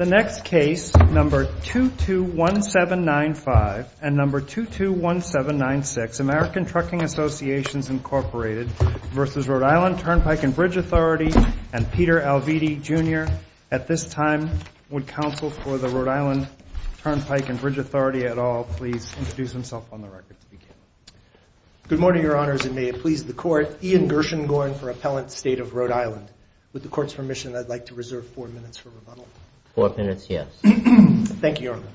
The next case, No. 221795 and No. 221796, American Trucking Associations, Inc. v. Rhode Island Turnpike and Bridge Authority and Peter Alviti, Jr. At this time, would counsel for the Rhode Island Turnpike and Bridge Authority at all please introduce himself on the record to begin. Good morning, Your Honors, and may it please the Court, Ian Gershengorn for Appellant State of Rhode Island. With the Court's permission, I'd like to reserve four minutes for rebuttal. Four minutes, yes. Thank you, Your Honor.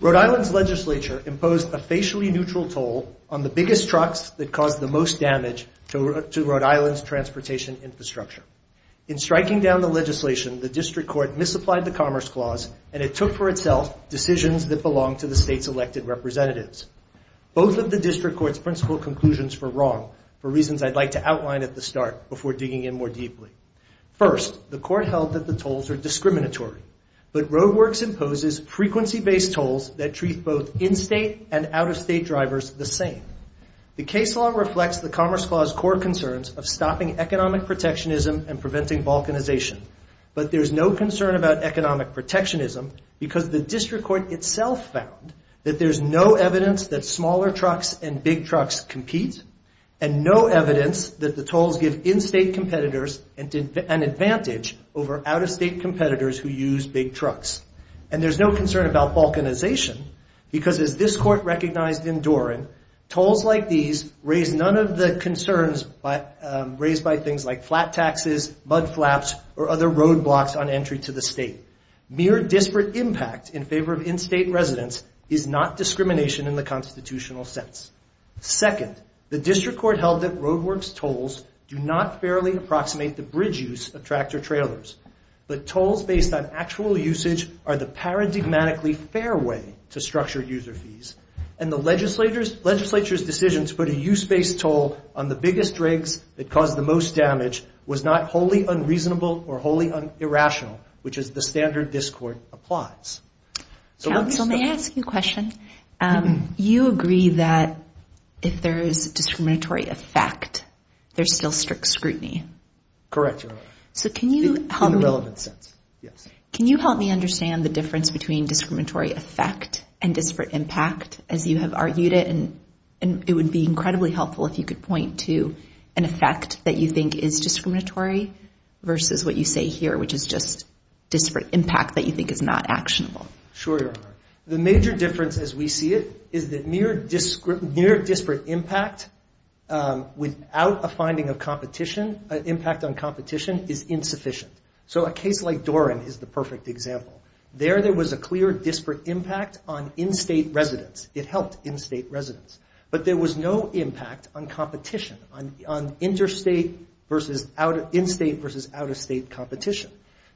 Rhode Island's legislature imposed a facially neutral toll on the biggest trucks that caused the most damage to Rhode Island's transportation infrastructure. In striking down the legislation, the District Court misapplied the Commerce Clause and it took for itself decisions that belonged to the state's elected representatives. Both of the District Court's principal conclusions were wrong for reasons I'd like to outline at the start before digging in more deeply. First, the Court held that the tolls are discriminatory, but RoadWorks imposes frequency-based tolls that treat both in-state and out-of-state drivers the same. The case law reflects the Commerce Clause core concerns of stopping economic protectionism and preventing balkanization, but there's no concern about economic protectionism because the District Court itself found that there's no evidence that smaller trucks and big trucks compete and no evidence that the tolls give in-state competitors an advantage over out-of-state competitors who use big trucks. And there's no concern about balkanization because, as this Court recognized in Doran, tolls like these raise none of the concerns raised by things like flat taxes, mud flaps, or other roadblocks on entry to the state. Mere disparate impact in favor of in-state residents is not discrimination in the constitutional sense. Second, the District Court held that RoadWorks tolls do not fairly approximate the bridge use of tractor-trailers, but tolls based on actual usage are the paradigmatically fair way to structure user fees, and the Legislature's decision to put a use-based toll on the biggest rigs that cause the most damage was not wholly unreasonable or wholly irrational, which as the standard this Court applies. Counsel, may I ask you a question? You agree that if there is discriminatory effect, there's still strict scrutiny. Correct, Your Honor. In the relevant sense, yes. Can you help me understand the difference between discriminatory effect and disparate impact, as you have argued it, and it would be incredibly helpful if you could point to an effect that you think is discriminatory versus what you say here, which is just disparate impact that you think is not actionable. Sure, Your Honor. The major difference as we see it is that mere disparate impact without a finding of competition, an impact on competition, is insufficient. So a case like Doran is the perfect example. There there was a clear disparate impact on in-state residents. It helped in-state residents. But there was no impact on competition, on interstate versus out of, in-state versus out-of-state competition.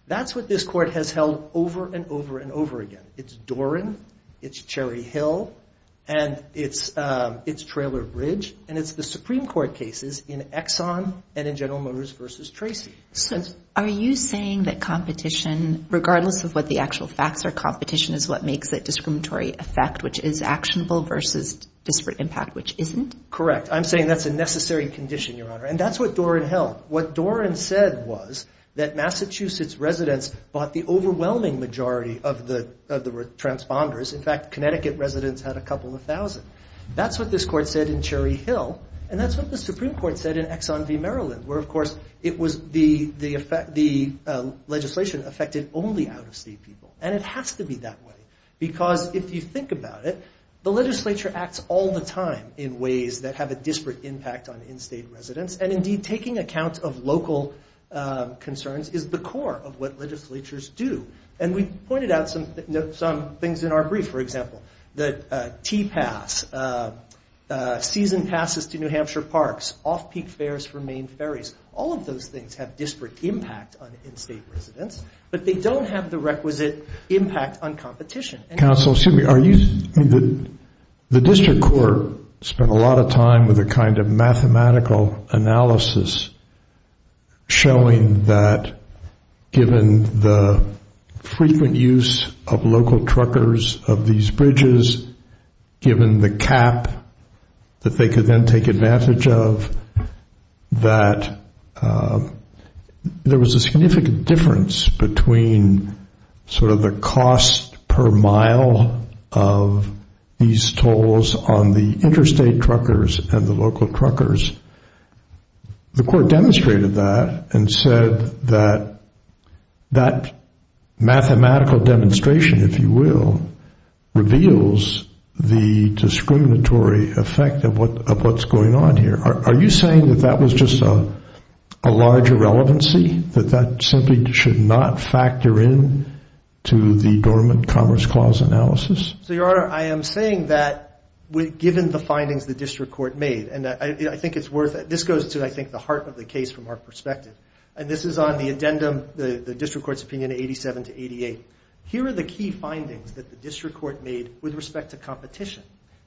That's what this Court has held over and over and over again. It's Doran, it's Cherry Hill, and it's Traylor Bridge, and it's the Supreme Court cases in Exxon and in General Motors versus Tracy. Are you saying that competition, regardless of what the actual facts are, competition is what makes that discriminatory effect, which is actionable, versus disparate impact, which isn't? Correct. I'm saying that's a necessary condition, Your Honor. And that's what Doran held. What Doran said was that Massachusetts residents bought the overwhelming majority of the transponders. In fact, Connecticut residents had a couple of thousand. That's what this Court said in Cherry Hill, and that's what the Supreme Court said in Exxon v. Maryland, where, of course, the legislation affected only out-of-state people. And it has to be that way, because if you think about it, the legislature acts all the local concerns is the core of what legislatures do. And we pointed out some things in our brief, for example, that T-pass, season passes to New Hampshire parks, off-peak fares for main ferries, all of those things have disparate impact on in-state residents, but they don't have the requisite impact on competition. Counsel, excuse me, are you saying that the district court spent a lot of time with a kind of mathematical analysis showing that given the frequent use of local truckers of these bridges, given the cap that they could then take advantage of, that there was a significant difference between sort of the cost per mile of these tolls on the interstate truckers and the local truckers? The Court demonstrated that and said that that mathematical demonstration, if you will, reveals the discriminatory effect of what's going on here. Are you saying that that was just a large irrelevancy, that that simply should not factor in to the dormant Commerce Clause analysis? So, Your Honor, I am saying that given the findings the district court made, and I think it's worth it, this goes to, I think, the heart of the case from our perspective, and this is on the addendum, the district court's opinion of 87 to 88. Here are the key findings that the district court made with respect to competition.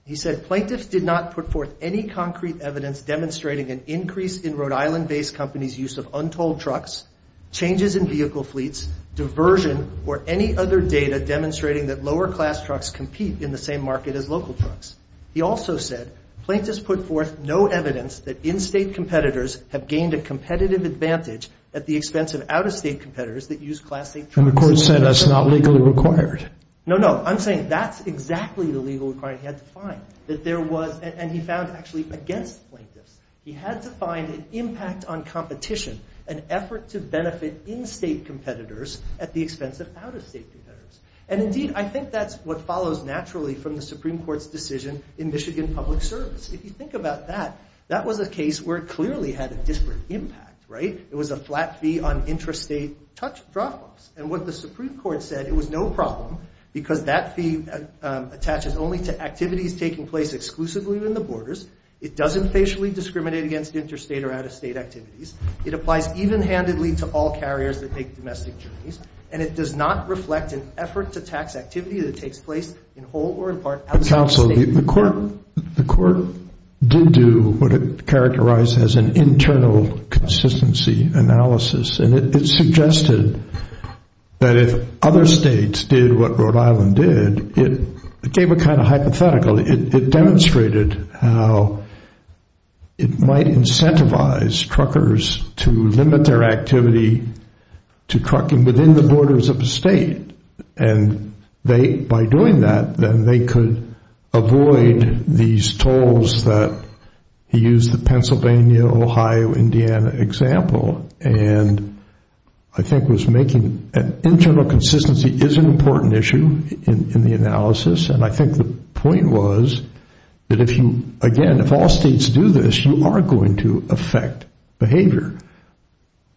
He said plaintiffs did not put forth any concrete evidence demonstrating an increase in Rhode Island-based companies' use of untold trucks, changes in vehicle fleets, diversion, or any other data demonstrating that lower-class trucks compete in the same market as local trucks. He also said plaintiffs put forth no evidence that in-state competitors have gained a competitive advantage at the expense of out-of-state competitors that use class-A trucks. And the Court said that's not legally required. No, no. I'm saying that's exactly the legal requirement he had to find, that there was, and he found actually against plaintiffs. He had to find an impact on competition, an effort to benefit in-state competitors at the expense of out-of-state competitors. And indeed, I think that's what follows naturally from the Supreme Court's decision in Michigan Public Service. If you think about that, that was a case where it clearly had a disparate impact, right? It was a flat fee on intrastate truck drop-offs. And what the Supreme Court said, it was no problem because that fee attaches only to activities taking place exclusively within the borders. It doesn't facially discriminate against interstate or out-of-state activities. It applies even-handedly to all carriers that make domestic journeys, and it does not reflect an effort to tax activity that takes place in whole or in part outside the state. The Court did do what it characterized as an internal consistency analysis, and it suggested that if other states did what Rhode Island did, it gave a kind of hypothetical. It demonstrated how it might incentivize truckers to limit their activity to trucking within the borders of a state. And they, by doing that, then they could avoid these tolls that he used the Pennsylvania, Ohio, Indiana example, and I think was making an internal consistency is an important issue in the analysis, and I think the point was that if you, again, if all states do this, you are going to affect behavior.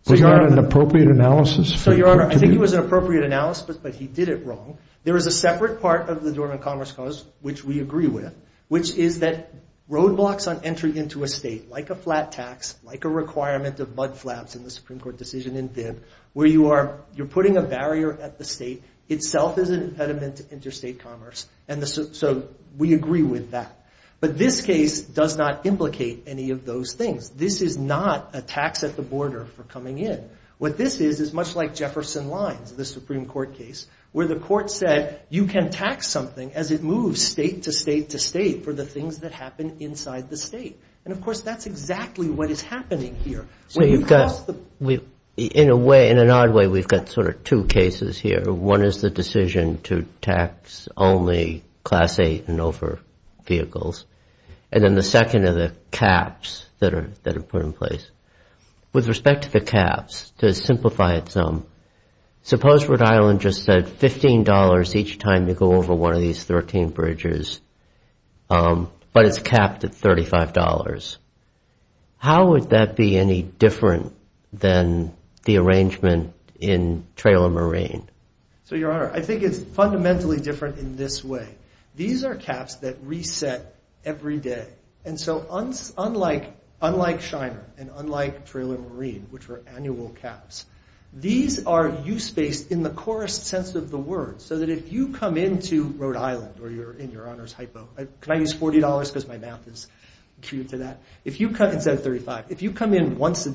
Was that an appropriate analysis? So, Your Honor, I think it was an appropriate analysis, but he did it wrong. There is a separate part of the Dormant Commerce Clause, which we agree with, which is that roadblocks on entry into a state, like a flat tax, like a requirement of mudflaps in the Supreme Court decision in Thib, where you are, you're putting a barrier at the state itself is an impediment to interstate commerce, and so we agree with that. But this case does not implicate any of those things. This is not a tax at the border for coming in. What this is, is much like Jefferson Lines, the Supreme Court case, where the court said, you can tax something as it moves state to state to state for the things that happen inside the state. And, of course, that's exactly what is happening here. So you've got, in a way, in an odd way, we've got sort of two cases here. One is the decision to tax only Class 8 and over vehicles. And then the second are the caps that are put in place. With respect to the caps, to simplify it some, suppose Rhode Island just said $15 each time to go over one of these 13 bridges, but it's capped at $35. How would that be any different than the arrangement in Trailer Marine? So, Your Honor, I think it's fundamentally different in this way. These are caps that reset every day. And so unlike Shiner and unlike Trailer Marine, which are annual caps, these are use-based in the corest sense of the word. So that if you come into Rhode Island, or you're in Your Honor's hypo, can I use $40 because my math is acute to that, instead of $35, if you come in once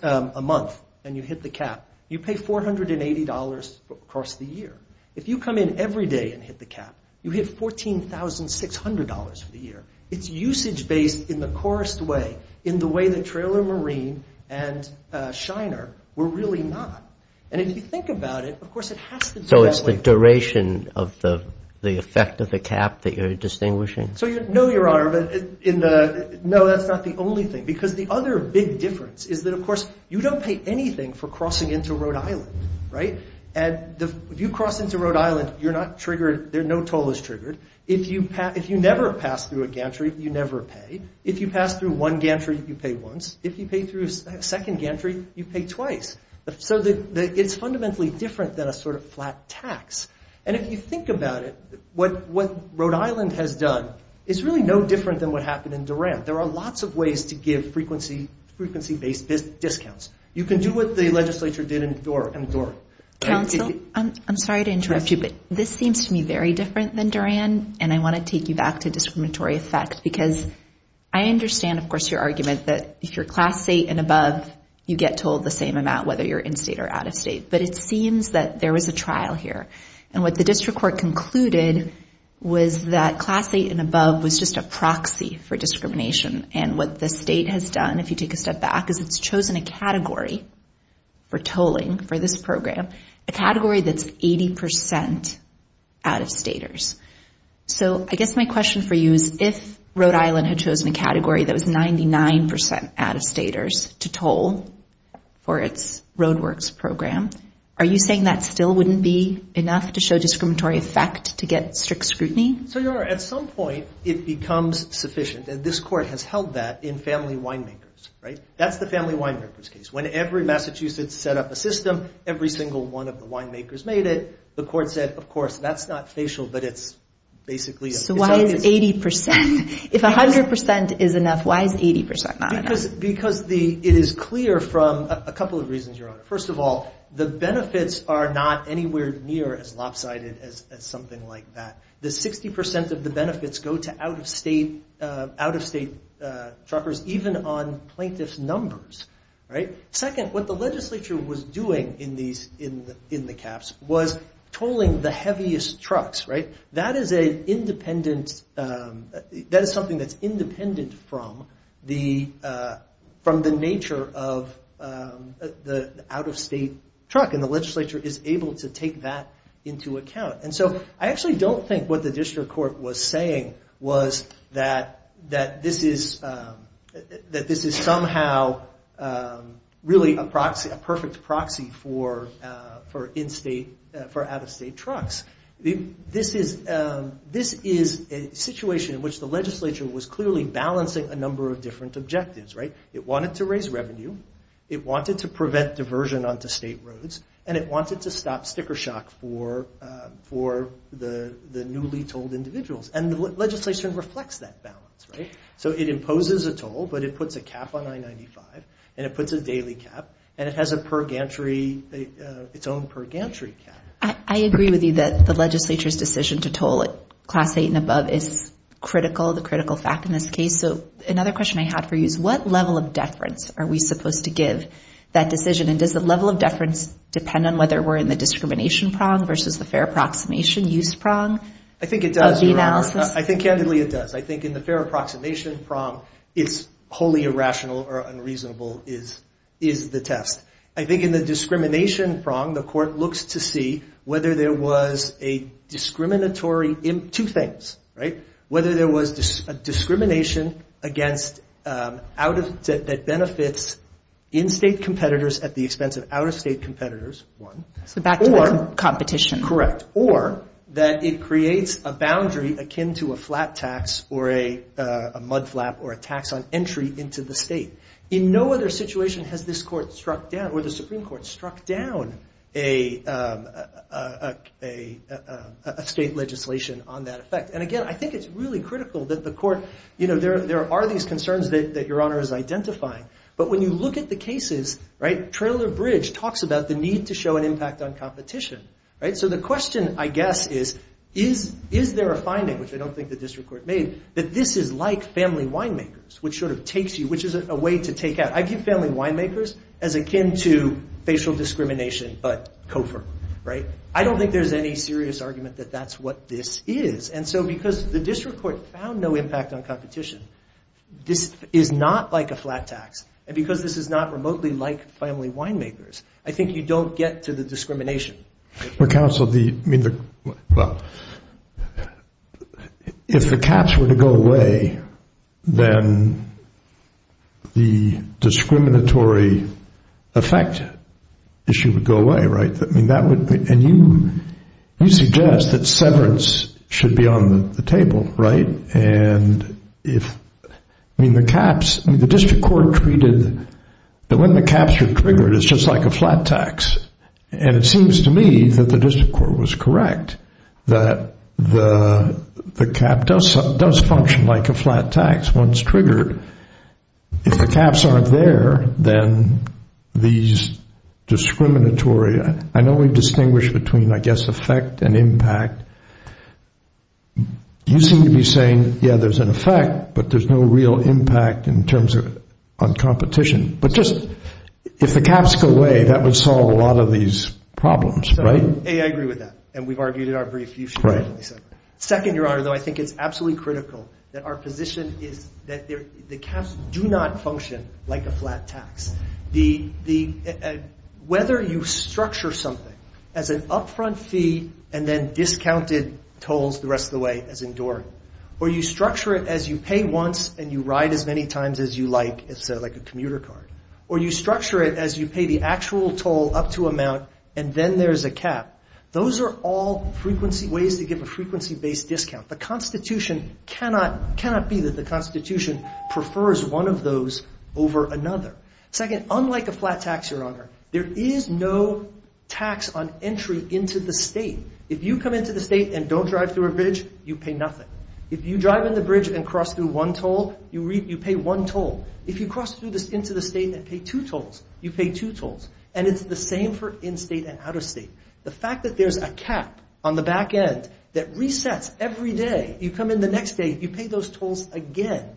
a month and you hit the cap, you pay $480 across the year. If you come in every day and hit the cap, you hit $14,600 for the year. It's usage-based in the corest way, in the way that Trailer Marine and Shiner were really not. And if you think about it, of course, it has to be that way. So it's the duration of the effect of the cap that you're distinguishing? No, Your Honor, no, that's not the only thing. Because the other big difference is that, of course, you don't pay anything for crossing into Rhode Island, right? And if you cross into Rhode Island, you're not triggered, no toll is triggered. If you never pass through a gantry, you never pay. If you pass through one gantry, you pay once. If you pay through a second gantry, you pay twice. So it's fundamentally different than a sort of flat tax. And if you think about it, what Rhode Island has done is really no different than what happened in Duran. There are lots of ways to give frequency-based discounts. You can do what the legislature did in Duran. Counsel, I'm sorry to interrupt you, but this seems to me very different than Duran, and I want to take you back to discriminatory effect. Because I understand, of course, your argument that if you're class A and above, you get told the same amount, whether you're in-state or out-of-state. But it seems that there was a trial here. And what the district court concluded was that class A and above was just a proxy for discrimination. And what the state has done, if you take a step back, is it's chosen a category for tolling for this program, a category that's 80 percent out-of-staters. So I guess my question for you is, if Rhode Island had chosen a category that was 99 percent out-of-staters to toll for its RoadWorks program, are you saying that still wouldn't be enough to show discriminatory effect to get strict scrutiny? So, Your Honor, at some point, it becomes sufficient. And this court has held that in family winemakers, right? That's the family winemakers case. When every Massachusetts set up a system, every single one of the winemakers made it, the court said, of course, that's not facial, but it's basically a... So why is 80 percent? If 100 percent is enough, why is 80 percent not enough? It is clear from a couple of reasons, Your Honor. First of all, the benefits are not anywhere near as lopsided as something like that. The 60 percent of the benefits go to out-of-state truckers, even on plaintiff's numbers, right? Second, what the legislature was doing in the caps was tolling the heaviest trucks, right? That is something that's independent from the nature of the out-of-state truck, and the legislature is able to take that into account. And so I actually don't think what the district court was saying was that this is somehow really a perfect proxy for out-of-state trucks. This is a situation in which the legislature was clearly balancing a number of different objectives, right? It wanted to raise revenue, it wanted to prevent diversion onto state roads, and it wanted to stop sticker shock for the newly tolled individuals, and the legislation reflects that balance, right? So it imposes a toll, but it puts a cap on I-95, and it puts a daily cap, and it has a per-gantry, its own per-gantry cap. I agree with you that the legislature's decision to toll at Class 8 and above is critical, the critical fact in this case. So another question I have for you is what level of deference are we supposed to give that decision, and does the level of deference depend on whether we're in the discrimination prong versus the fair approximation use prong of the analysis? I think it does, Your Honor. I think candidly it does. I think in the fair approximation prong, it's wholly irrational or unreasonable is the test. I think in the discrimination prong, the court looks to see whether there was a discriminatory – two things, right? Whether there was a discrimination against out of – that benefits in-state competitors at the expense of out-of-state competitors, one. So back to the competition. Correct. Or that it creates a boundary akin to a flat tax or a mudflap or a tax on entry into the state. In no other situation has this court struck down or the Supreme Court struck down a state legislation on that effect. And again, I think it's really critical that the court – you know, there are these concerns that Your Honor is identifying. But when you look at the cases, right, Traylor Bridge talks about the need to show an impact on competition, right? So the question, I guess, is is there a finding, which I don't think the district court made, that this is like family winemakers, which sort of takes you – which is a way to take out – I give family winemakers as akin to facial discrimination but COFR, right? I don't think there's any serious argument that that's what this is. And so because the district court found no impact on competition, this is not like a flat tax. And because this is not remotely like family winemakers, I think you don't get to the discrimination. But counsel, the – I mean, the – well, if the caps were to go away, then the discriminatory effect issue would go away, right? I mean, that would – and you suggest that severance should be on the table, right? And if – I mean, the caps – I mean, the district court treated – that when the caps are triggered, it's just like a flat tax. And it seems to me that the district court was correct, that the cap does function like a flat tax once triggered. If the caps aren't there, then these discriminatory – I know we distinguish between, I guess, effect and impact. You seem to be saying, yeah, there's an effect, but there's no real impact in terms of – on competition. But just – if the caps go away, that would solve a lot of these problems, right? I agree with that. And we've argued in our brief. You should – Right. Second, Your Honor, though, I think it's absolutely critical that our position is that the caps do not function like a flat tax. Whether you structure something as an upfront fee and then discounted tolls the rest of the way as enduring, or you structure it as you pay once and you ride as many times as you like, it's like a commuter card, or you structure it as you pay the actual toll up to amount and then there's a cap. Those are all frequency – ways to give a frequency-based discount. The Constitution cannot – cannot be that the Constitution prefers one of those over Second, unlike a flat tax, Your Honor, there is no tax on entry into the state. If you come into the state and don't drive through a bridge, you pay nothing. If you drive in the bridge and cross through one toll, you pay one toll. If you cross into the state and pay two tolls, you pay two tolls. And it's the same for in-state and out-of-state. The fact that there's a cap on the back end that resets every day, you come in the next day, you pay those tolls again,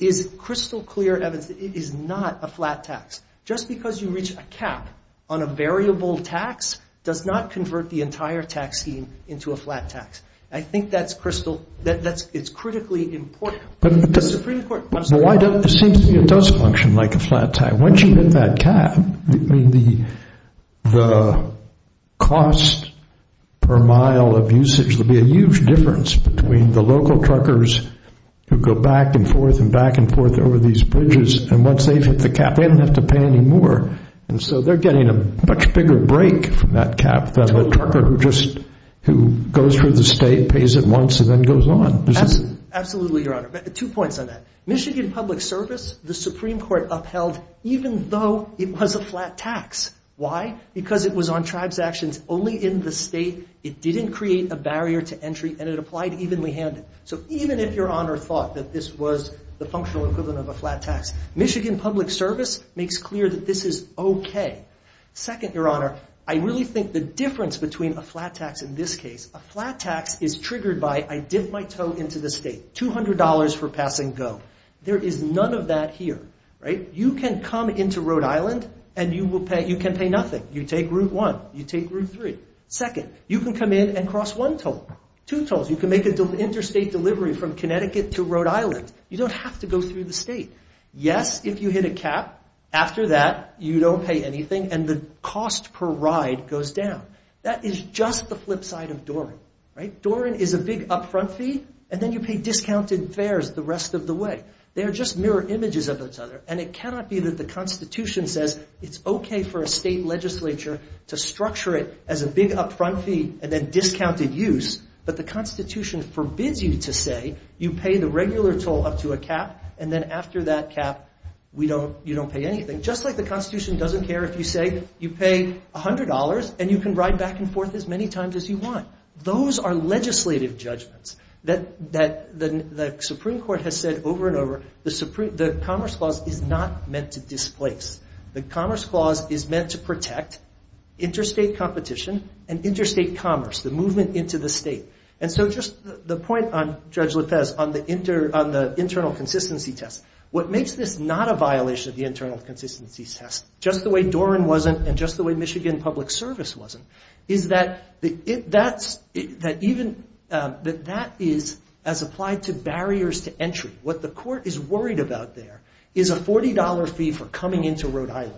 is crystal clear evidence that it is not a flat tax. Just because you reach a cap on a variable tax does not convert the entire tax scheme into a flat tax. I think that's crystal – that's – it's critically important. The Supreme Court – But why don't – it seems to me it does function like a flat tax. Once you hit that cap, I mean, the – the cost per mile of usage will be a huge difference between the local truckers who go back and forth and back and forth over these bridges and once they've hit the cap, they don't have to pay any more. And so they're getting a much bigger break from that cap than the trucker who just – who goes through the state, pays it once, and then goes on. Absolutely, Your Honor. But two points on that. Michigan Public Service, the Supreme Court upheld even though it was a flat tax. Why? Because it was on tribes' actions only in the state. It didn't create a barrier to entry and it applied evenly handed. So even if Your Honor thought that this was the functional equivalent of a flat tax, Michigan Public Service makes clear that this is okay. Flat tax is triggered by, I dip my toe into the state, $200 for passing go. There is none of that here, right? You can come into Rhode Island and you will pay – you can pay nothing. You take Route 1. You take Route 3. Second, you can come in and cross one toll, two tolls. You can make an interstate delivery from Connecticut to Rhode Island. You don't have to go through the state. Yes, if you hit a cap, after that you don't pay anything and the cost per ride goes down. That is just the flip side of Doran, right? Doran is a big upfront fee and then you pay discounted fares the rest of the way. They are just mirror images of each other and it cannot be that the Constitution says it's okay for a state legislature to structure it as a big upfront fee and then discounted use, but the Constitution forbids you to say you pay the regular toll up to a cap and then after that cap you don't pay anything. Just like the Constitution doesn't care if you say you pay $100 and you can ride back and forth as many times as you want. Those are legislative judgments that the Supreme Court has said over and over, the Commerce Clause is not meant to displace. The Commerce Clause is meant to protect interstate competition and interstate commerce, the movement into the state. And so just the point on, Judge Lopez, on the internal consistency test. What makes this not a violation of the internal consistency test, just the way Doran wasn't and just the way Michigan Public Service wasn't, is that that is as applied to barriers to entry. What the court is worried about there is a $40 fee for coming into Rhode Island.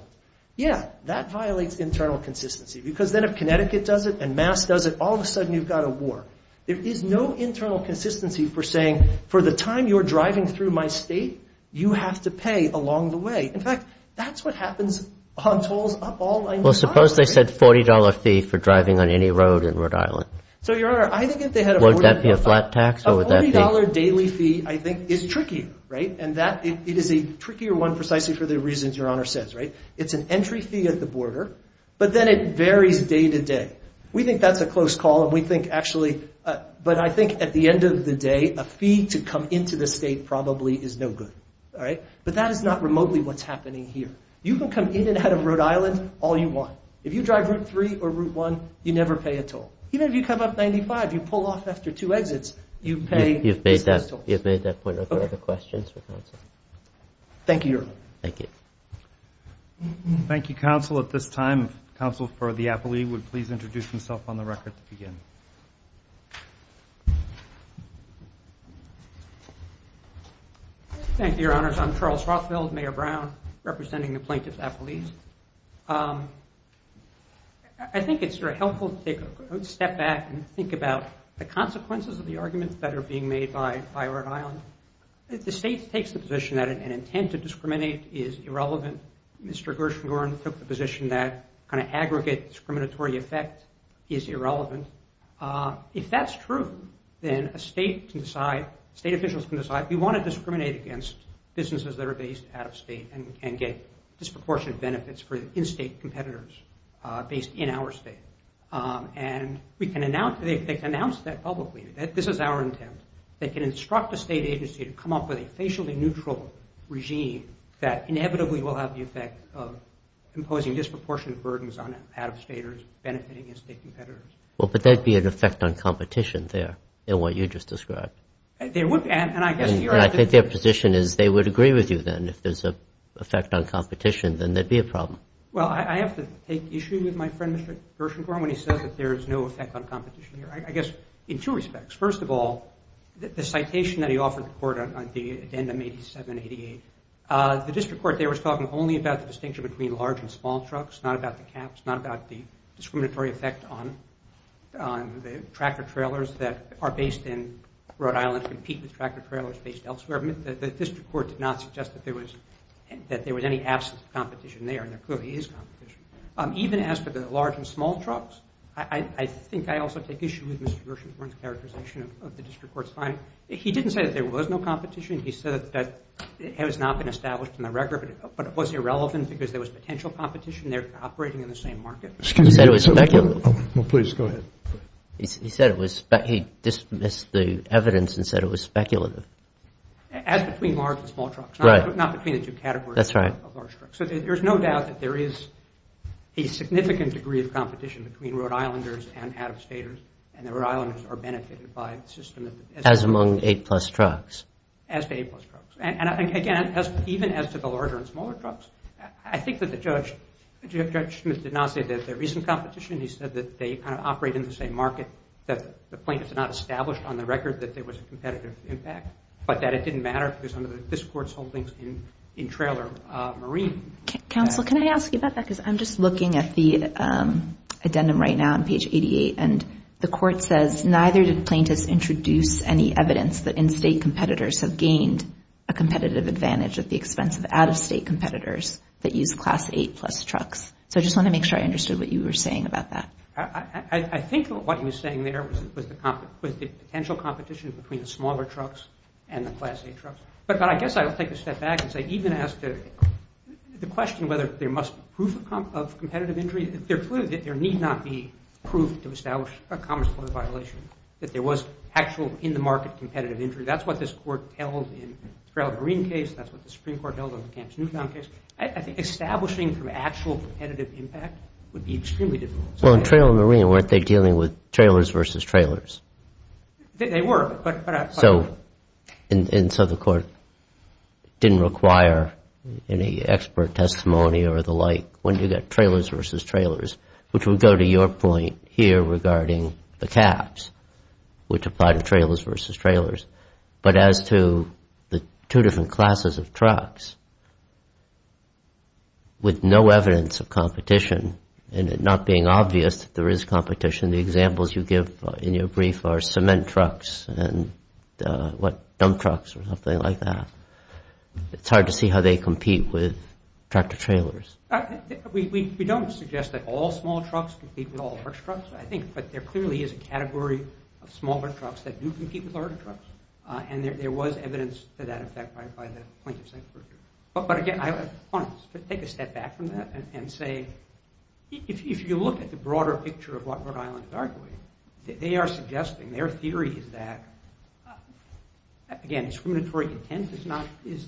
Yeah, that violates internal consistency because then if Connecticut does it and Mass does it, all of a sudden you've got a war. There is no internal consistency for saying, for the time you're driving through my state, you have to pay along the way. In fact, that's what happens on tolls up all the way to Rhode Island. Well, suppose they said $40 fee for driving on any road in Rhode Island. So Your Honor, I think if they had a $40 daily fee I think is trickier, right? And that it is a trickier one precisely for the reasons Your Honor says, right? It's an entry fee at the border, but then it varies day to day. We think that's a close call and we think actually, but I think at the end of the day a fee to come into the state probably is no good, all right? But that is not remotely what's happening here. You can come in and out of Rhode Island all you want. If you drive Route 3 or Route 1, you never pay a toll. Even if you come up 95, you pull off after two exits, you pay the same tolls. You've made that point. Are there other questions for counsel? Thank you, Your Honor. Thank you. Thank you, counsel. At this time, counsel for the appellee would please introduce himself on the record to begin. Thank you, Your Honors. I'm Charles Rothfeld, Mayor Brown, representing the plaintiff's appellees. I think it's very helpful to take a step back and think about the consequences of the arguments that are being made by Rhode Island. The state takes the position that an intent to discriminate is irrelevant. Mr. Gershengorn took the position that kind of aggregate discriminatory effect is irrelevant. If that's true, then a state can decide, state officials can decide, we want to discriminate against businesses that are based out of state and get disproportionate benefits for the in-state competitors based in our state. And we can announce, they can announce that publicly, that this is our intent. They can instruct a state agency to come up with a facially neutral regime that inevitably will have the effect of imposing disproportionate burdens on out-of-staters benefiting in-state competitors. Well, but there'd be an effect on competition there, in what you just described. There would, and I guess here I think the position is they would agree with you then if there's an effect on competition, then there'd be a problem. Well, I have to take issue with my friend, Mr. Gershengorn, when he says that there is no effect on competition here. I guess in two respects. First of all, the citation that he offered the court on the addendum 8788, the district court there was talking only about the distinction between large and small trucks, not about the caps, not about the discriminatory effect on the tractor-trailers that are based in Rhode Island, compete with tractor-trailers based elsewhere. The district court did not suggest that there was any absence of competition there, and there clearly is competition. Even as for the large and small trucks, I think I also take issue with Mr. Gershengorn's characterization of the district court's finding. He didn't say that there was no competition. He said that it has not been established in the record, but it was irrelevant because there was potential competition there operating in the same market. He said it was speculative. Well, please, go ahead. He said it was, he dismissed the evidence and said it was speculative. As between large and small trucks. Right. Not between the two categories. That's right. So there's no doubt that there is a significant degree of competition between Rhode Islanders and out-of-staters, and the Rhode Islanders are benefited by the system. As among eight-plus trucks. As to eight-plus trucks. And, again, even as to the larger and smaller trucks, I think that the judge, Judge Smith, did not say that there isn't competition. He said that they kind of operate in the same market, that the plaintiffs had not established on the record that there was a competitive impact, but that it didn't matter because under the district court's holdings in trailer marine. Counsel, can I ask you about that, because I'm just looking at the addendum right now on page 88, and the court says, neither did the plaintiffs introduce any evidence that in-state competitors have gained a competitive advantage at the expense of out-of-state competitors that use class eight-plus trucks. So I just want to make sure I understood what you were saying about that. I think what he was saying there was the potential competition between the smaller trucks and the class eight trucks. But I guess I'll take a step back and say, even as to the question whether there must be proof of competitive injury, there need not be proof to establish a commerce court violation that there was actual in-the-market competitive injury. That's what this court held in the trailer marine case, and that's what the Supreme Court held in the Kamp's Newtown case. I think establishing from actual competitive impact would be extremely difficult. Well, in trailer marine, weren't they dealing with trailers versus trailers? They were, but I'm not sure. And so the court didn't require any expert testimony or the like when you get trailers versus trailers, which would go to your point here regarding the caps, which apply to trailers versus trailers. But as to the two different classes of trucks, with no evidence of competition, and it not being obvious that there is competition, the examples you give in your brief are cement trucks and dump trucks or something like that, it's hard to see how they compete with tractor trailers. We don't suggest that all small trucks compete with all large trucks, I think, but there clearly is a category of smaller trucks that do compete with larger trucks, and there was evidence to that effect by the plaintiff's expert jury. But again, I want to take a step back from that and say, if you look at the broader picture of what Rhode Island is arguing, they are suggesting, their theory is that, again, discriminatory intent is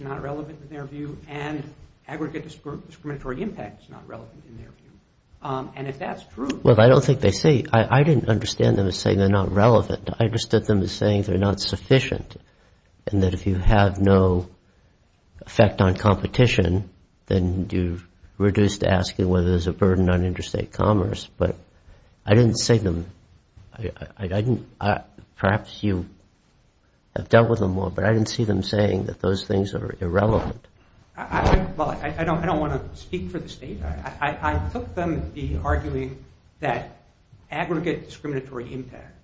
not relevant in their view, and aggregate discriminatory impact is not relevant in their view. And if that's true- Well, I don't think they say- I didn't understand them as saying they're not relevant. I understood them as saying they're not sufficient, and that if you have no effect on competition, then you've reduced asking whether there's a burden on interstate commerce. But I didn't see them- perhaps you have dealt with them more, but I didn't see them saying that those things are irrelevant. Well, I don't want to speak for the state. I took them to be arguing that aggregate discriminatory impact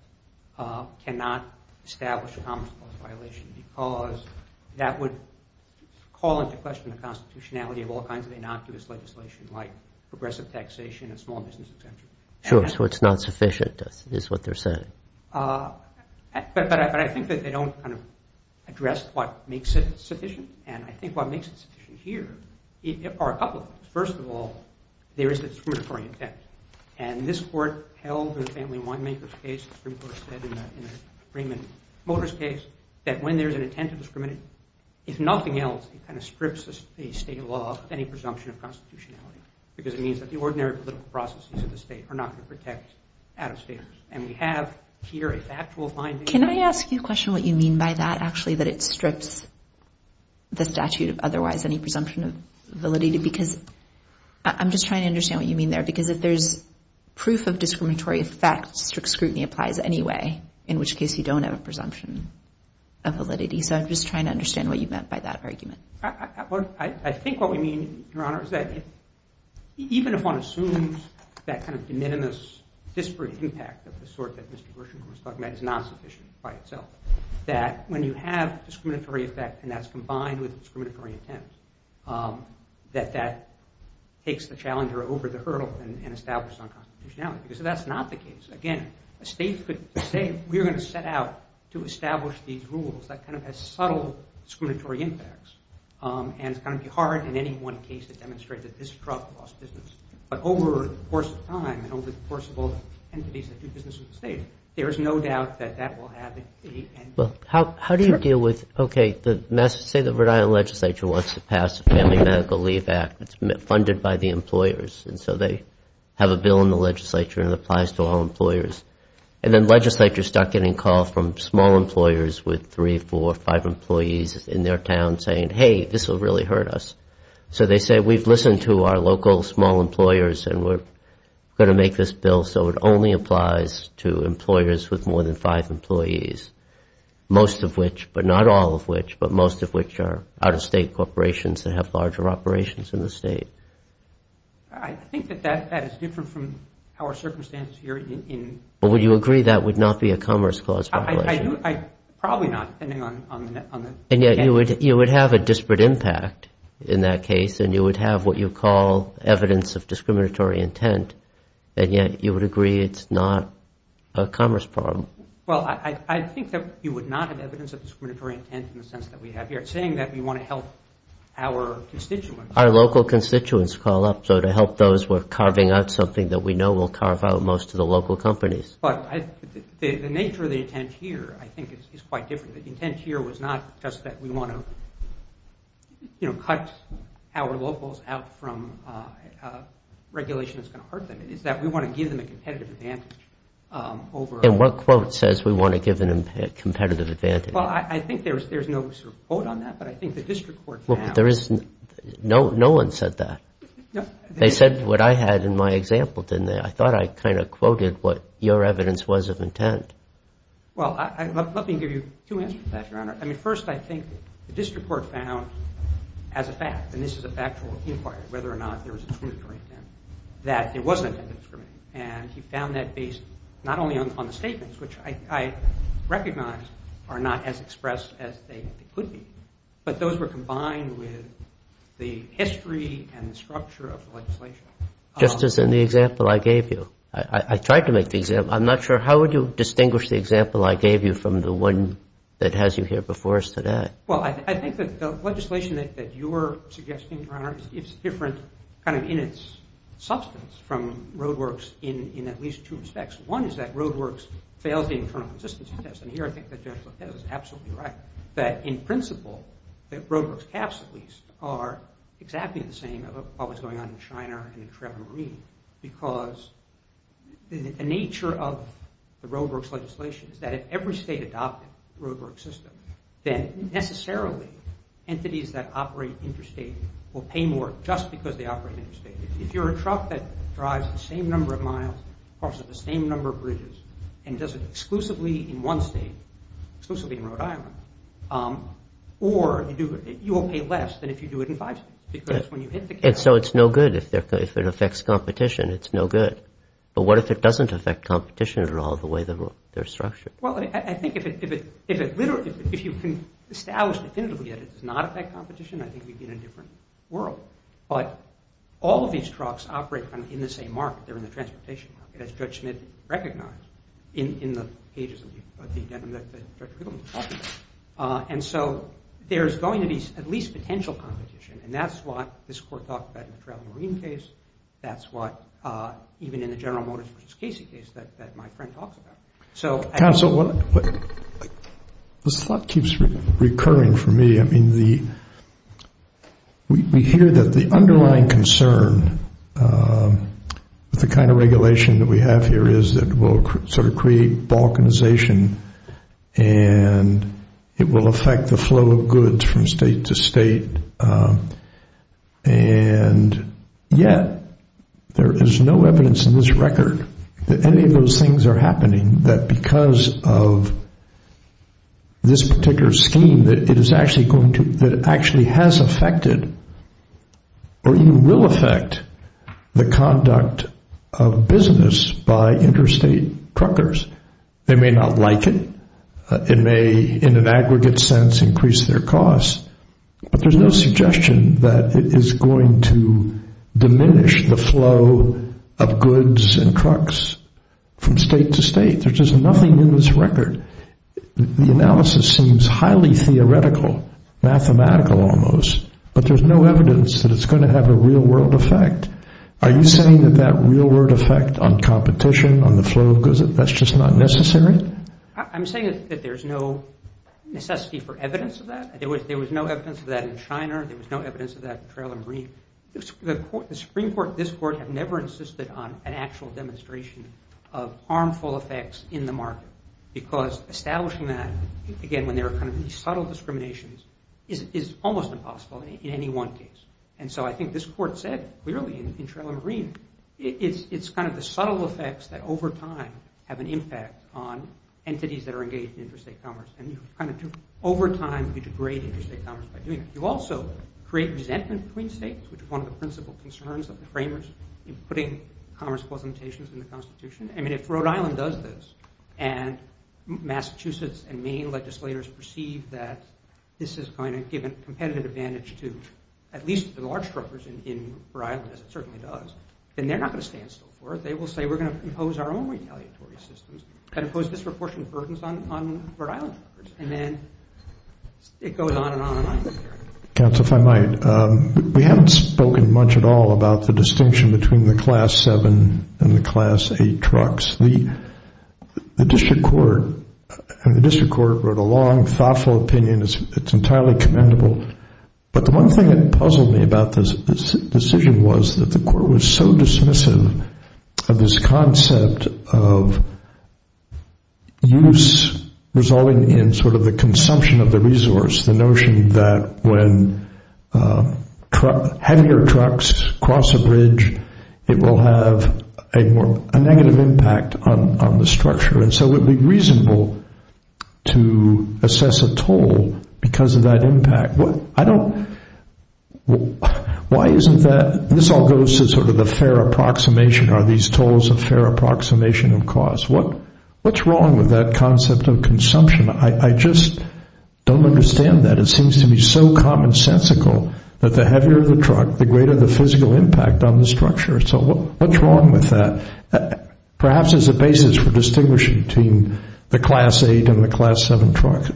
cannot establish a commerce clause violation because that would call into question the constitutionality of all kinds of innocuous legislation like progressive taxation and small business exemption. Sure, so it's not sufficient, is what they're saying. But I think that they don't address what makes it sufficient, and I think what makes it sufficient here are a couple of things. First of all, there is a discriminatory intent. And this court held in the Family Winemakers case, the Supreme Court said in the Raymond Motors case, that when there's an intent to discriminate, if nothing else, it kind of strips the state of law of any presumption of constitutionality, because it means that the ordinary political processes of the state are not going to protect out-of-staters. And we have here a factual finding. Can I ask you a question what you mean by that, actually, that it strips the statute of otherwise any presumption of validity? Because I'm just trying to understand what you mean there. Because if there's proof of discriminatory effect, strict scrutiny applies anyway, in which case you don't have a presumption of validity. So I'm just trying to understand what you meant by that argument. I think what we mean, Your Honor, is that even if one assumes that kind of de minimis disparate impact of the sort that Mr. Gershengorn is talking about is not sufficient by itself, that when you have discriminatory effect, and that's combined with discriminatory intent, that that takes the challenger over the hurdle and establishes unconstitutionality. Because if that's not the case, again, a state could say, we're going to set out to establish these rules that kind of have subtle discriminatory impacts. And it's going to be hard in any one case to demonstrate that this drug lost business. But over the course of time and over the course of all the entities that do business with the state, there is no doubt that that will happen. Well, how do you deal with, OK, say the Rhode Island legislature wants to pass a family medical leave act that's funded by the employers. And so they have a bill in the legislature, and it applies to all employers. And then legislatures start getting calls from small employers with three, four, five employees in their town saying, hey, this will really hurt us. So they say, we've listened to our local small employers, and we're going to make this bill so it only applies to employers with more than five employees. Most of which, but not all of which, but most of which are out-of-state corporations that have larger operations in the state. I think that that is different from our circumstances here. Well, would you agree that would not be a commerce clause violation? Probably not, depending on the extent. And yet you would have a disparate impact in that case, and you would have what you call evidence of discriminatory intent. And yet you would agree it's not a commerce problem. Well, I think that you would not have evidence of discriminatory intent in the sense that we have here. It's saying that we want to help our constituents. Our local constituents call up. So to help those, we're carving out something that we know will carve out most of the local companies. But the nature of the intent here, I think, is quite different. The intent here was not just that we want to cut our locals out from regulation that's going to hurt them. It's that we want to give them a competitive advantage over others. And what quote says we want to give them a competitive advantage? Well, I think there's no sort of quote on that, but I think the district court found— No one said that. They said what I had in my example, didn't they? I thought I kind of quoted what your evidence was of intent. Well, let me give you two answers to that, Your Honor. I mean, first, I think the district court found as a fact, and this is a factual inquiry, whether or not there was a discriminatory intent, that there was an intent of discrimination. And he found that based not only on the statements, which I recognize are not as expressed as they could be, but those were combined with the history and the structure of the legislation. Just as in the example I gave you. I tried to make the example. I'm not sure. How would you distinguish the example I gave you from the one that has you here before us today? Well, I think that the legislation that you're suggesting, Your Honor, is different kind of in its substance from Roadworks in at least two respects. One is that Roadworks fails the internal consistency test, and here I think that Judge Lopez is absolutely right, that in principle that Roadworks caps, at least, are exactly the same of what was going on in Shiner and in Travel Marine because the nature of the Roadworks legislation is that if every state adopted the Roadworks system, then necessarily entities that operate interstate will pay more just because they operate interstate. If you're a truck that drives the same number of miles, crosses the same number of bridges, and does it exclusively in one state, exclusively in Rhode Island, or you will pay less than if you do it in five states. And so it's no good. If it affects competition, it's no good. But what if it doesn't affect competition at all the way they're structured? Well, I think if you can establish definitively that it does not affect competition, I think we'd be in a different world. But all of these trucks operate in the same market. They're in the transportation market, as Judge Smith recognized in the pages of the indictment that Judge Riggleman was talking about. And so there's going to be at least potential competition, and that's what this Court talked about in the Travel Marine case. That's what even in the General Motors v. Casey case that my friend talks about. Counsel, this thought keeps recurring for me. I mean, we hear that the underlying concern with the kind of regulation that we have here is that it will sort of create balkanization, and it will affect the flow of goods from state to state. And yet there is no evidence in this record that any of those things are happening, that because of this particular scheme that it actually has affected or even will affect the conduct of business by interstate truckers. They may not like it. It may, in an aggregate sense, increase their costs. But there's no suggestion that it is going to diminish the flow of goods and trucks from state to state. There's just nothing in this record. The analysis seems highly theoretical, mathematical almost, but there's no evidence that it's going to have a real-world effect. Are you saying that that real-world effect on competition, on the flow of goods, that's just not necessary? I'm saying that there's no necessity for evidence of that. There was no evidence of that in China. There was no evidence of that in the Travel Marine. The Supreme Court and this Court have never insisted on an actual demonstration of harmful effects in the market because establishing that, again, when there are kind of these subtle discriminations, is almost impossible in any one case. And so I think this Court said clearly in Travel Marine, it's kind of the subtle effects that over time have an impact on entities that are engaged in interstate commerce. And over time, you degrade interstate commerce by doing that. You also create resentment between states, which is one of the principal concerns of the framers in putting commerce quotations in the Constitution. I mean, if Rhode Island does this and Massachusetts and Maine legislators perceive that this is going to give a competitive advantage to at least the large truckers in Rhode Island, as it certainly does, then they're not going to stand still for it. They will say, we're going to impose our own retaliatory systems and impose disproportionate burdens on Rhode Island truckers. And then it goes on and on and on. Counsel, if I might, we haven't spoken much at all about the distinction between the Class 7 and the Class 8 trucks. The district court wrote a long, thoughtful opinion. It's entirely commendable. But the one thing that puzzled me about this decision was that the court was so dismissive of this concept of use resulting in sort of the consumption of the resource, the notion that when heavier trucks cross a bridge, it will have a negative impact on the structure. And so it would be reasonable to assess a toll because of that impact. Why isn't that – this all goes to sort of the fair approximation. Are these tolls a fair approximation of cost? What's wrong with that concept of consumption? I just don't understand that. It seems to be so commonsensical that the heavier the truck, the greater the physical impact on the structure. So what's wrong with that, perhaps as a basis for distinguishing between the Class 8 and the Class 7 trucks?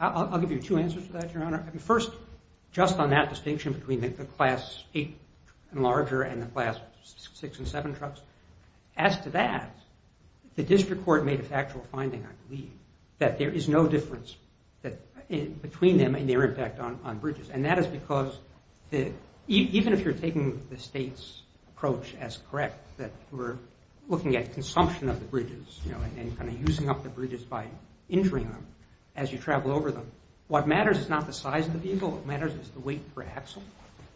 I'll give you two answers to that, Your Honor. First, just on that distinction between the Class 8 and larger and the Class 6 and 7 trucks, as to that, the district court made a factual finding, I believe, that there is no difference between them and their impact on bridges. And that is because even if you're taking the state's approach as correct, that we're looking at consumption of the bridges and kind of using up the bridges by injuring them as you travel over them, what matters is not the size of the vehicle. What matters is the weight per axle.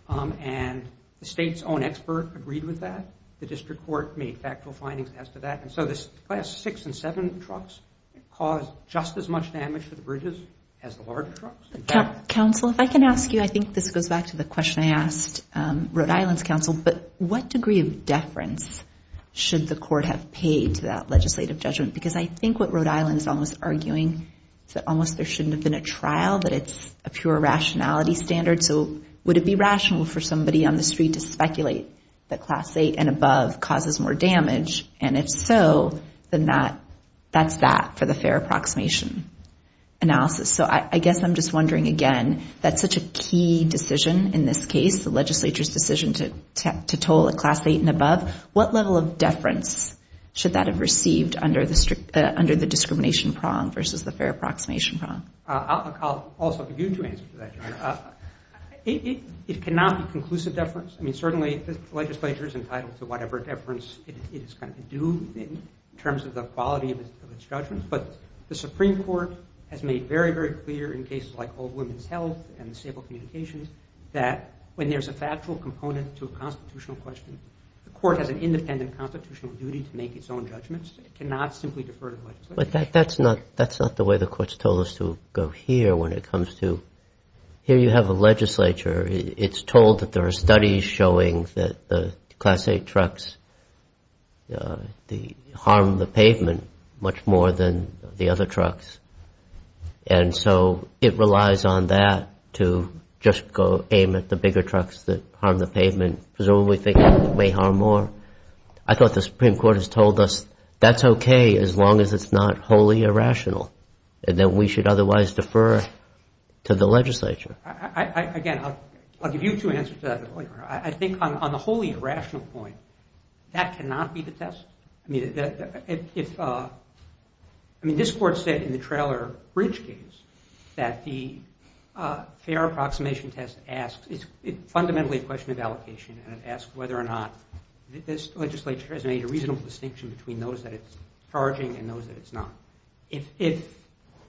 And the state's own expert agreed with that. The district court made factual findings as to that. And so the Class 6 and 7 trucks caused just as much damage to the bridges as the larger trucks. Counsel, if I can ask you, I think this goes back to the question I asked Rhode Island's counsel, but what degree of deference should the court have paid to that legislative judgment? Because I think what Rhode Island is almost arguing is that almost there shouldn't have been a trial, that it's a pure rationality standard. So would it be rational for somebody on the street to speculate that Class 8 and above causes more damage? And if so, then that's that for the fair approximation analysis. So I guess I'm just wondering, again, that's such a key decision in this case, the legislature's decision to toll a Class 8 and above. What level of deference should that have received under the discrimination prong versus the fair approximation prong? I'll also give you two answers to that, John. It cannot be conclusive deference. I mean, certainly the legislature is entitled to whatever deference it is going to do in terms of the quality of its judgment. But the Supreme Court has made very, very clear in cases like old women's health and disabled communications that when there's a factual component to a constitutional question, the court has an independent constitutional duty to make its own judgments. It cannot simply defer to the legislature. But that's not the way the court's told us to go here when it comes to here you have a legislature. It's told that there are studies showing that the Class 8 trucks harm the pavement much more than the other trucks. And so it relies on that to just go aim at the bigger trucks that harm the pavement. Presumably they may harm more. I thought the Supreme Court has told us that's okay as long as it's not wholly irrational and that we should otherwise defer to the legislature. Again, I'll give you two answers to that. I think on the wholly irrational point, that cannot be the test. I mean, this Court said in the Traylor Bridge case that the fair approximation test asks, it's fundamentally a question of allocation. It asks whether or not this legislature has made a reasonable distinction between those that it's charging and those that it's not. If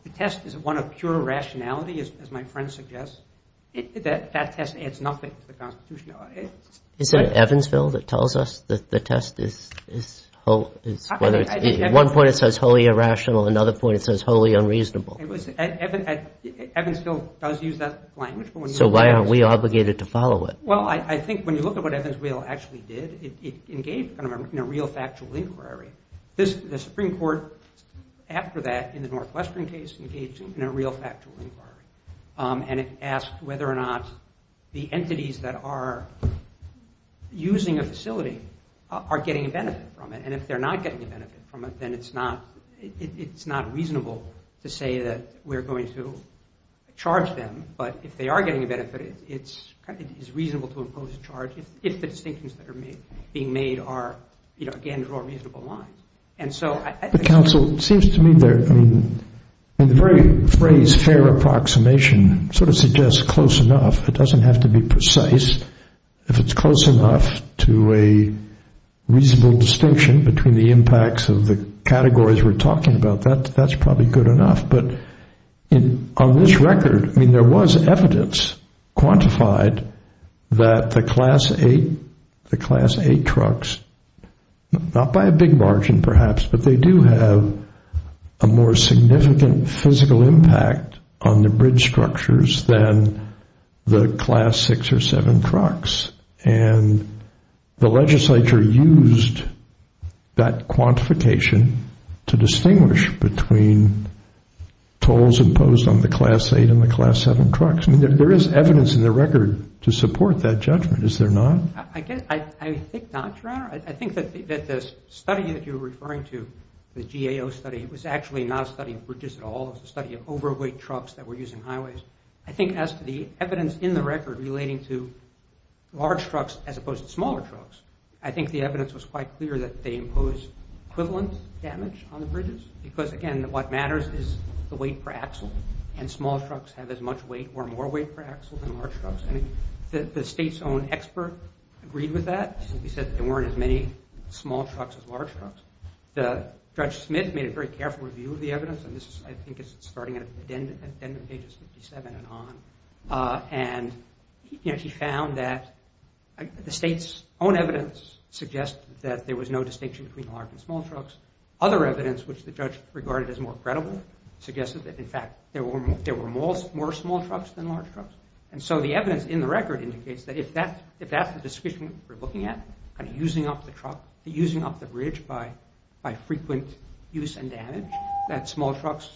the test is one of pure rationality, as my friend suggests, that test adds nothing to the Constitution. Is it Evansville that tells us that the test is whether it's, at one point it says wholly irrational, at another point it says wholly unreasonable? Evansville does use that language. So why are we obligated to follow it? Well, I think when you look at what Evansville actually did, it engaged in a real factual inquiry. The Supreme Court after that in the Northwestern case engaged in a real factual inquiry, and it asked whether or not the entities that are using a facility are getting a benefit from it. And if they're not getting a benefit from it, then it's not reasonable to say that we're going to charge them. But if they are getting a benefit, it's reasonable to impose a charge if the distinctions that are being made are, you know, again, draw reasonable lines. And so I think— But, counsel, it seems to me that the very phrase fair approximation sort of suggests close enough. It doesn't have to be precise. If it's close enough to a reasonable distinction between the impacts of the categories we're talking about, that's probably good enough. But on this record, I mean, there was evidence quantified that the Class 8 trucks, not by a big margin perhaps, but they do have a more significant physical impact on the bridge structures than the Class 6 or 7 trucks. And the legislature used that quantification to distinguish between tolls imposed on the Class 8 and the Class 7 trucks. I mean, there is evidence in the record to support that judgment, is there not? I think not, Your Honor. I think that the study that you're referring to, the GAO study, it was actually not a study of bridges at all. It was a study of overweight trucks that were using highways. I think as to the evidence in the record relating to large trucks as opposed to smaller trucks, I think the evidence was quite clear that they imposed equivalent damage on the bridges because, again, what matters is the weight per axle. And small trucks have as much weight or more weight per axle than large trucks. I mean, the state's own expert agreed with that. He said there weren't as many small trucks as large trucks. Judge Smith made a very careful review of the evidence, and this, I think, is starting at the end of pages 57 and on, and he found that the state's own evidence suggested that there was no distinction between large and small trucks. Other evidence, which the judge regarded as more credible, suggested that, in fact, there were more small trucks than large trucks. And so the evidence in the record indicates that if that's the description we're looking at, kind of using up the bridge by frequent use and damage, that small trucks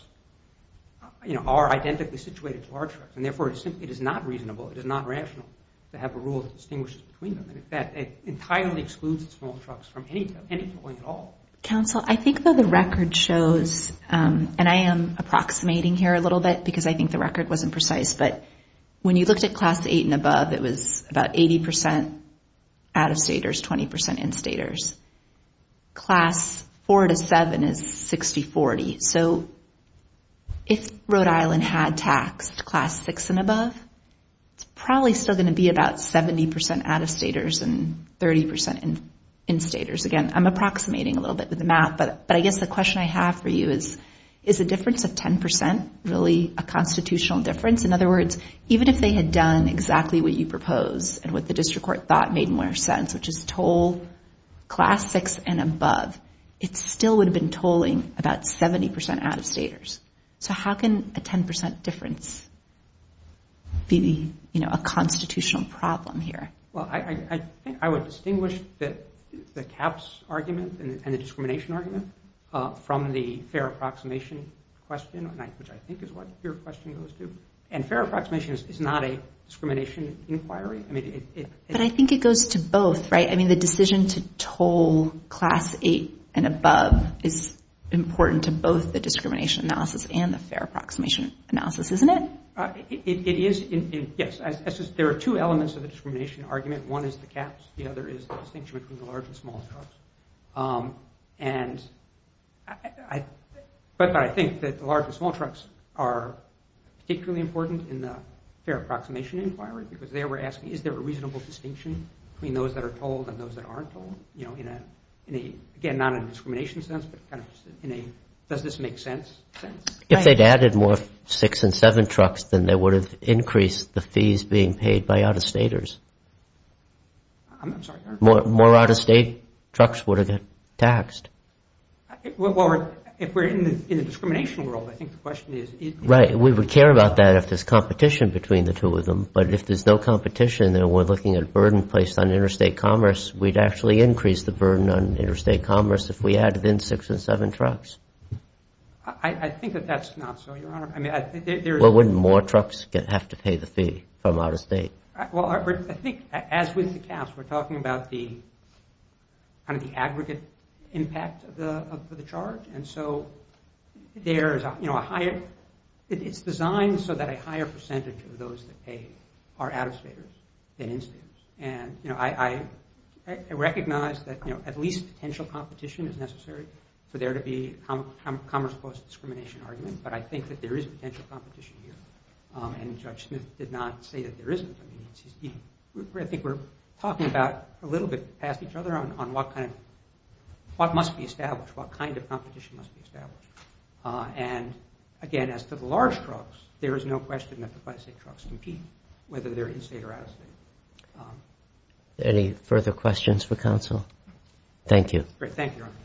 are identically situated to large trucks, and therefore it is not reasonable, it is not rational to have a rule that distinguishes between them. In fact, it entirely excludes small trucks from any towing at all. Counsel, I think that the record shows, and I am approximating here a little bit because I think the record wasn't precise, but when you looked at Class 8 and above, it was about 80% out-of-staters, 20% in-staters. Class 4 to 7 is 60-40. So if Rhode Island had taxed Class 6 and above, it's probably still going to be about 70% out-of-staters and 30% in-staters. Again, I'm approximating a little bit with the map, but I guess the question I have for you is, is the difference of 10% really a constitutional difference? In other words, even if they had done exactly what you proposed and what the district court thought made more sense, which is toll Class 6 and above, it still would have been tolling about 70% out-of-staters. So how can a 10% difference be a constitutional problem here? Well, I think I would distinguish the caps argument and the discrimination argument from the fair approximation question, which I think is what your question goes to. And fair approximation is not a discrimination inquiry. But I think it goes to both, right? I mean, the decision to toll Class 8 and above is important to both the discrimination analysis and the fair approximation analysis, isn't it? It is, yes. There are two elements of the discrimination argument. One is the caps. The other is the distinction between the large and small trucks. But I think that the large and small trucks are particularly important in the fair approximation inquiry because they were asking, is there a reasonable distinction between those that are tolled and those that aren't tolled? Again, not in a discrimination sense, but does this make sense? If they'd added more 6 and 7 trucks, then they would have increased the fees being paid by out-of-staters. I'm sorry? More out-of-state trucks would have been taxed. Well, if we're in the discrimination world, I think the question is... Right. We would care about that if there's competition between the two of them. But if there's no competition and we're looking at burden placed on interstate commerce, we'd actually increase the burden on interstate commerce if we added in 6 and 7 trucks. I think that that's not so, Your Honor. Well, wouldn't more trucks have to pay the fee from out-of-state? Well, I think, as with the caps, we're talking about the aggregate impact of the charge. And so there is a higher... It's designed so that a higher percentage of those that pay are out-of-staters than in-staters. And I recognize that at least potential competition is necessary for there to be commerce post-discrimination arguments, but I think that there is potential competition here. And Judge Smith did not say that there isn't. I think we're talking about a little bit past each other on what must be established, what kind of competition must be established. And, again, as to the large trucks, there is no question that the by-state trucks compete, whether they're in-state or out-of-state. Any further questions for counsel? Thank you. Great. Thank you, Your Honor.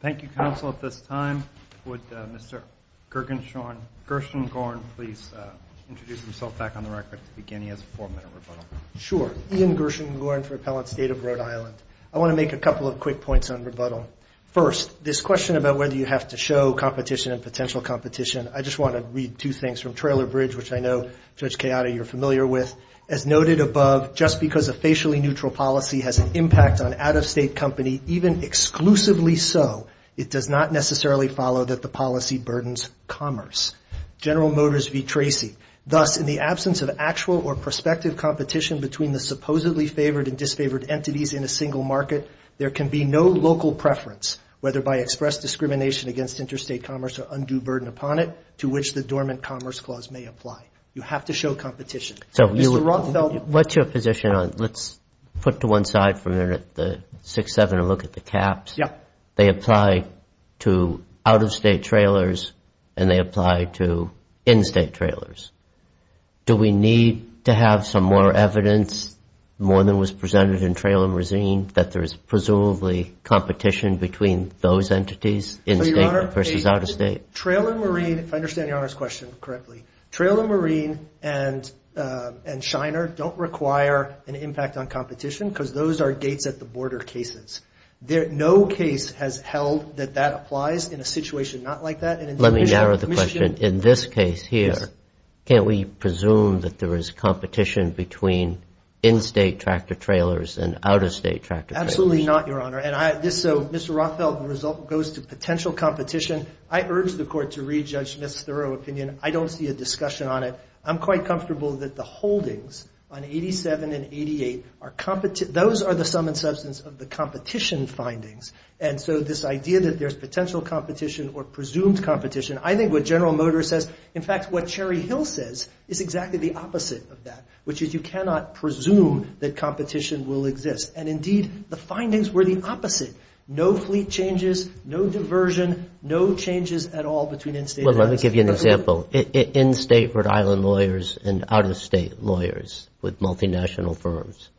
Thank you, counsel. At this time, would Mr. Gershengorn please introduce himself back on the record to begin? He has a four-minute rebuttal. Sure. Ian Gershengorn for Appellant State of Rhode Island. I want to make a couple of quick points on rebuttal. First, this question about whether you have to show competition and potential competition, I just want to read two things from Trailer Bridge, which I know, Judge Chiara, you're familiar with. As noted above, just because a facially neutral policy has an impact on out-of-state company, even exclusively so, it does not necessarily follow that the policy burdens commerce. General Motors v. Tracy. Thus, in the absence of actual or prospective competition between the supposedly favored and disfavored entities in a single market, there can be no local preference, whether by express discrimination against interstate commerce or undue burden upon it, to which the dormant commerce clause may apply. You have to show competition. What's your position on it? Let's put to one side for a minute the 6-7 and look at the caps. They apply to out-of-state trailers and they apply to in-state trailers. Do we need to have some more evidence, more than was presented in Trailer Marine, that there is presumably competition between those entities in-state versus out-of-state? Trailer Marine, if I understand Your Honor's question correctly, Trailer Marine and Shiner don't require an impact on competition because those are gates-at-the-border cases. No case has held that that applies in a situation not like that. Let me narrow the question. In this case here, can't we presume that there is competition between in-state tractor trailers and out-of-state tractor trailers? Absolutely not, Your Honor. Mr. Rothfeld, the result goes to potential competition. I urge the Court to re-judge Ms. Thurow's opinion. I don't see a discussion on it. I'm quite comfortable that the holdings on 87 and 88, those are the sum and substance of the competition findings. And so this idea that there's potential competition or presumed competition, I think what General Motors says, in fact, what Cherry Hill says, is exactly the opposite of that, which is you cannot presume that competition will exist. And, indeed, the findings were the opposite. No fleet changes, no diversion, no changes at all between in-state and out-of-state. Well, let me give you an example. In-state Rhode Island lawyers and out-of-state lawyers with multinational firms,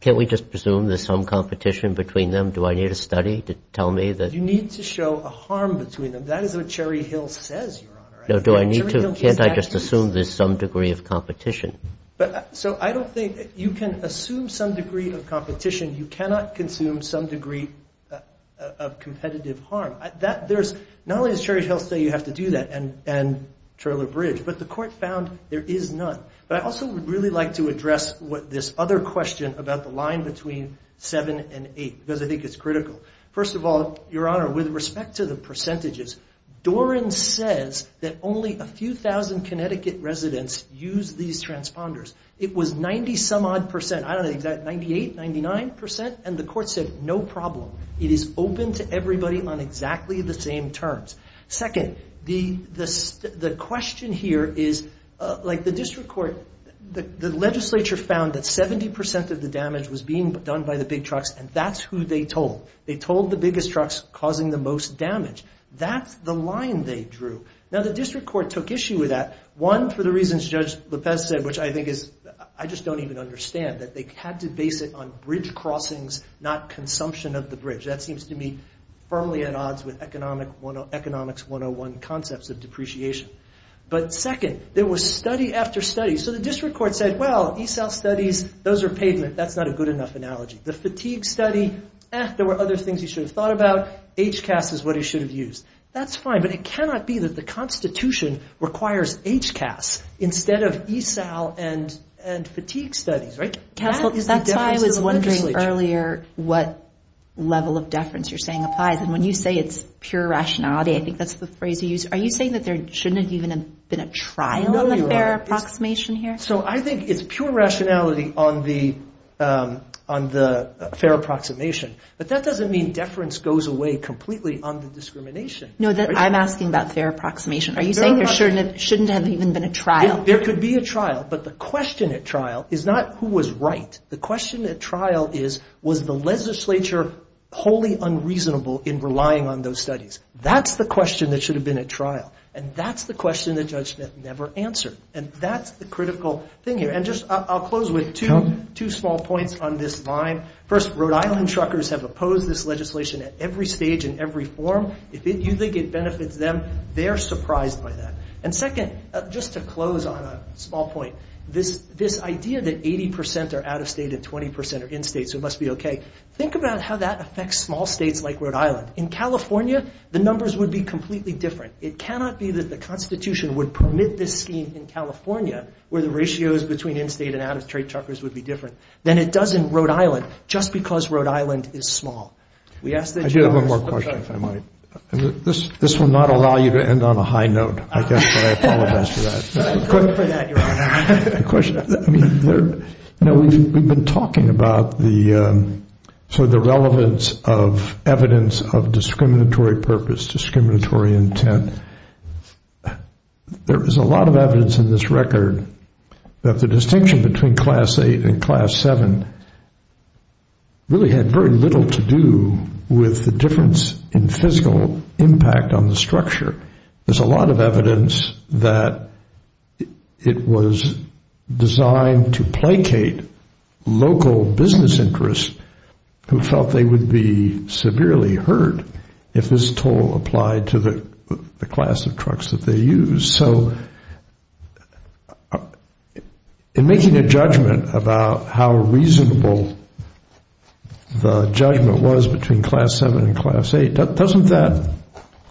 can't we just presume there's some competition between them? Do I need a study to tell me that? You need to show a harm between them. That is what Cherry Hill says, Your Honor. No, do I need to? Can't I just assume there's some degree of competition? So I don't think you can assume some degree of competition. You cannot consume some degree of competitive harm. Not only does Cherry Hill say you have to do that and trailer bridge, but the court found there is none. But I also would really like to address this other question about the line between 7 and 8, because I think it's critical. First of all, Your Honor, with respect to the percentages, Doran says that only a few thousand Connecticut residents use these transponders. It was 90-some-odd percent. I don't know the exact, 98%, 99%? And the court said, No problem. It is open to everybody on exactly the same terms. Second, the question here is, like the district court, the legislature found that 70% of the damage was being done by the big trucks, and that's who they told. They told the biggest trucks causing the most damage. That's the line they drew. Now, the district court took issue with that, one, for the reasons Judge Lopez said, which I think is, I just don't even understand, that they had to base it on bridge crossings, not consumption of the bridge. That seems to me firmly at odds with Economics 101 concepts of depreciation. But second, there was study after study. So the district court said, Well, ESAL studies, those are pavement. That's not a good enough analogy. The fatigue study, eh, there were other things he should have thought about. HCAS is what he should have used. That's fine, but it cannot be that the Constitution requires HCAS instead of ESAL and fatigue studies, right? That's why I was wondering earlier what level of deference you're saying applies, and when you say it's pure rationality, I think that's the phrase you use. Are you saying that there shouldn't have even been a trial on the fair approximation here? So I think it's pure rationality on the fair approximation, but that doesn't mean deference goes away completely on the discrimination. No, I'm asking about fair approximation. Are you saying there shouldn't have even been a trial? There could be a trial, but the question at trial is not who was right. The question at trial is was the legislature wholly unreasonable in relying on those studies. That's the question that should have been at trial, and that's the question the judgment never answered, and that's the critical thing here. And I'll close with two small points on this line. First, Rhode Island truckers have opposed this legislation at every stage and every form. If you think it benefits them, they're surprised by that. And second, just to close on a small point, this idea that 80 percent are out of state and 20 percent are in state, so it must be okay, think about how that affects small states like Rhode Island. In California, the numbers would be completely different. It cannot be that the Constitution would permit this scheme in California where the ratios between in-state and out-of-state truckers would be different than it does in Rhode Island just because Rhode Island is small. I do have one more question, if I might. This will not allow you to end on a high note, I guess, but I apologize for that. We've been talking about the relevance of evidence of discriminatory purpose, discriminatory intent. There is a lot of evidence in this record that the distinction between Class VIII and Class VII really had very little to do with the difference in physical impact on the structure. There's a lot of evidence that it was designed to placate local business interests who felt they would be severely hurt if this toll applied to the class of trucks that they used. So in making a judgment about how reasonable the judgment was between Class VII and Class VIII, doesn't that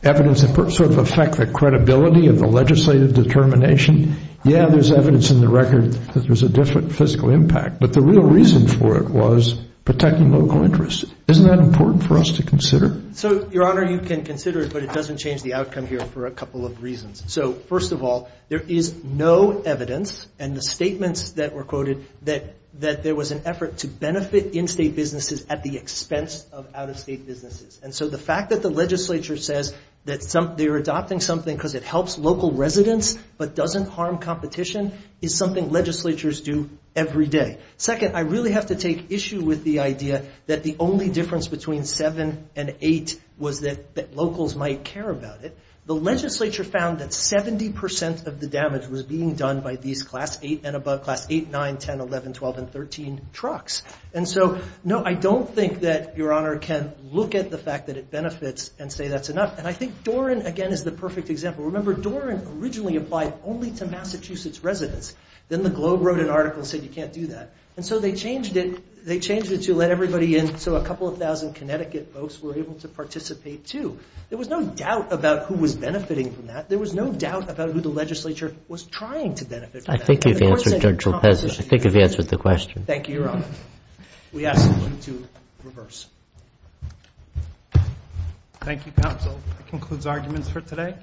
evidence sort of affect the credibility of the legislative determination? Yeah, there's evidence in the record that there's a different physical impact, but the real reason for it was protecting local interests. Isn't that important for us to consider? So, Your Honor, you can consider it, but it doesn't change the outcome here for a couple of reasons. So, first of all, there is no evidence in the statements that were quoted that there was an effort to benefit in-state businesses at the expense of out-of-state businesses. And so the fact that the legislature says that they're adopting something because it helps local residents but doesn't harm competition is something legislatures do every day. Second, I really have to take issue with the idea that the only difference between VII and VIII was that locals might care about it. The legislature found that 70 percent of the damage was being done by these Class VIII and above, Class VIII, IX, X, XI, XII, and XIII trucks. And so, no, I don't think that Your Honor can look at the fact that it benefits and say that's enough. And I think Doran, again, is the perfect example. Remember, Doran originally applied only to Massachusetts residents. Then the Globe wrote an article and said you can't do that. And so they changed it to let everybody in so a couple of thousand Connecticut folks were able to participate, too. There was no doubt about who was benefiting from that. There was no doubt about who the legislature was trying to benefit from that. I think you've answered the question. Thank you, Your Honor. We ask you to reverse. Thank you, counsel. That concludes arguments for today.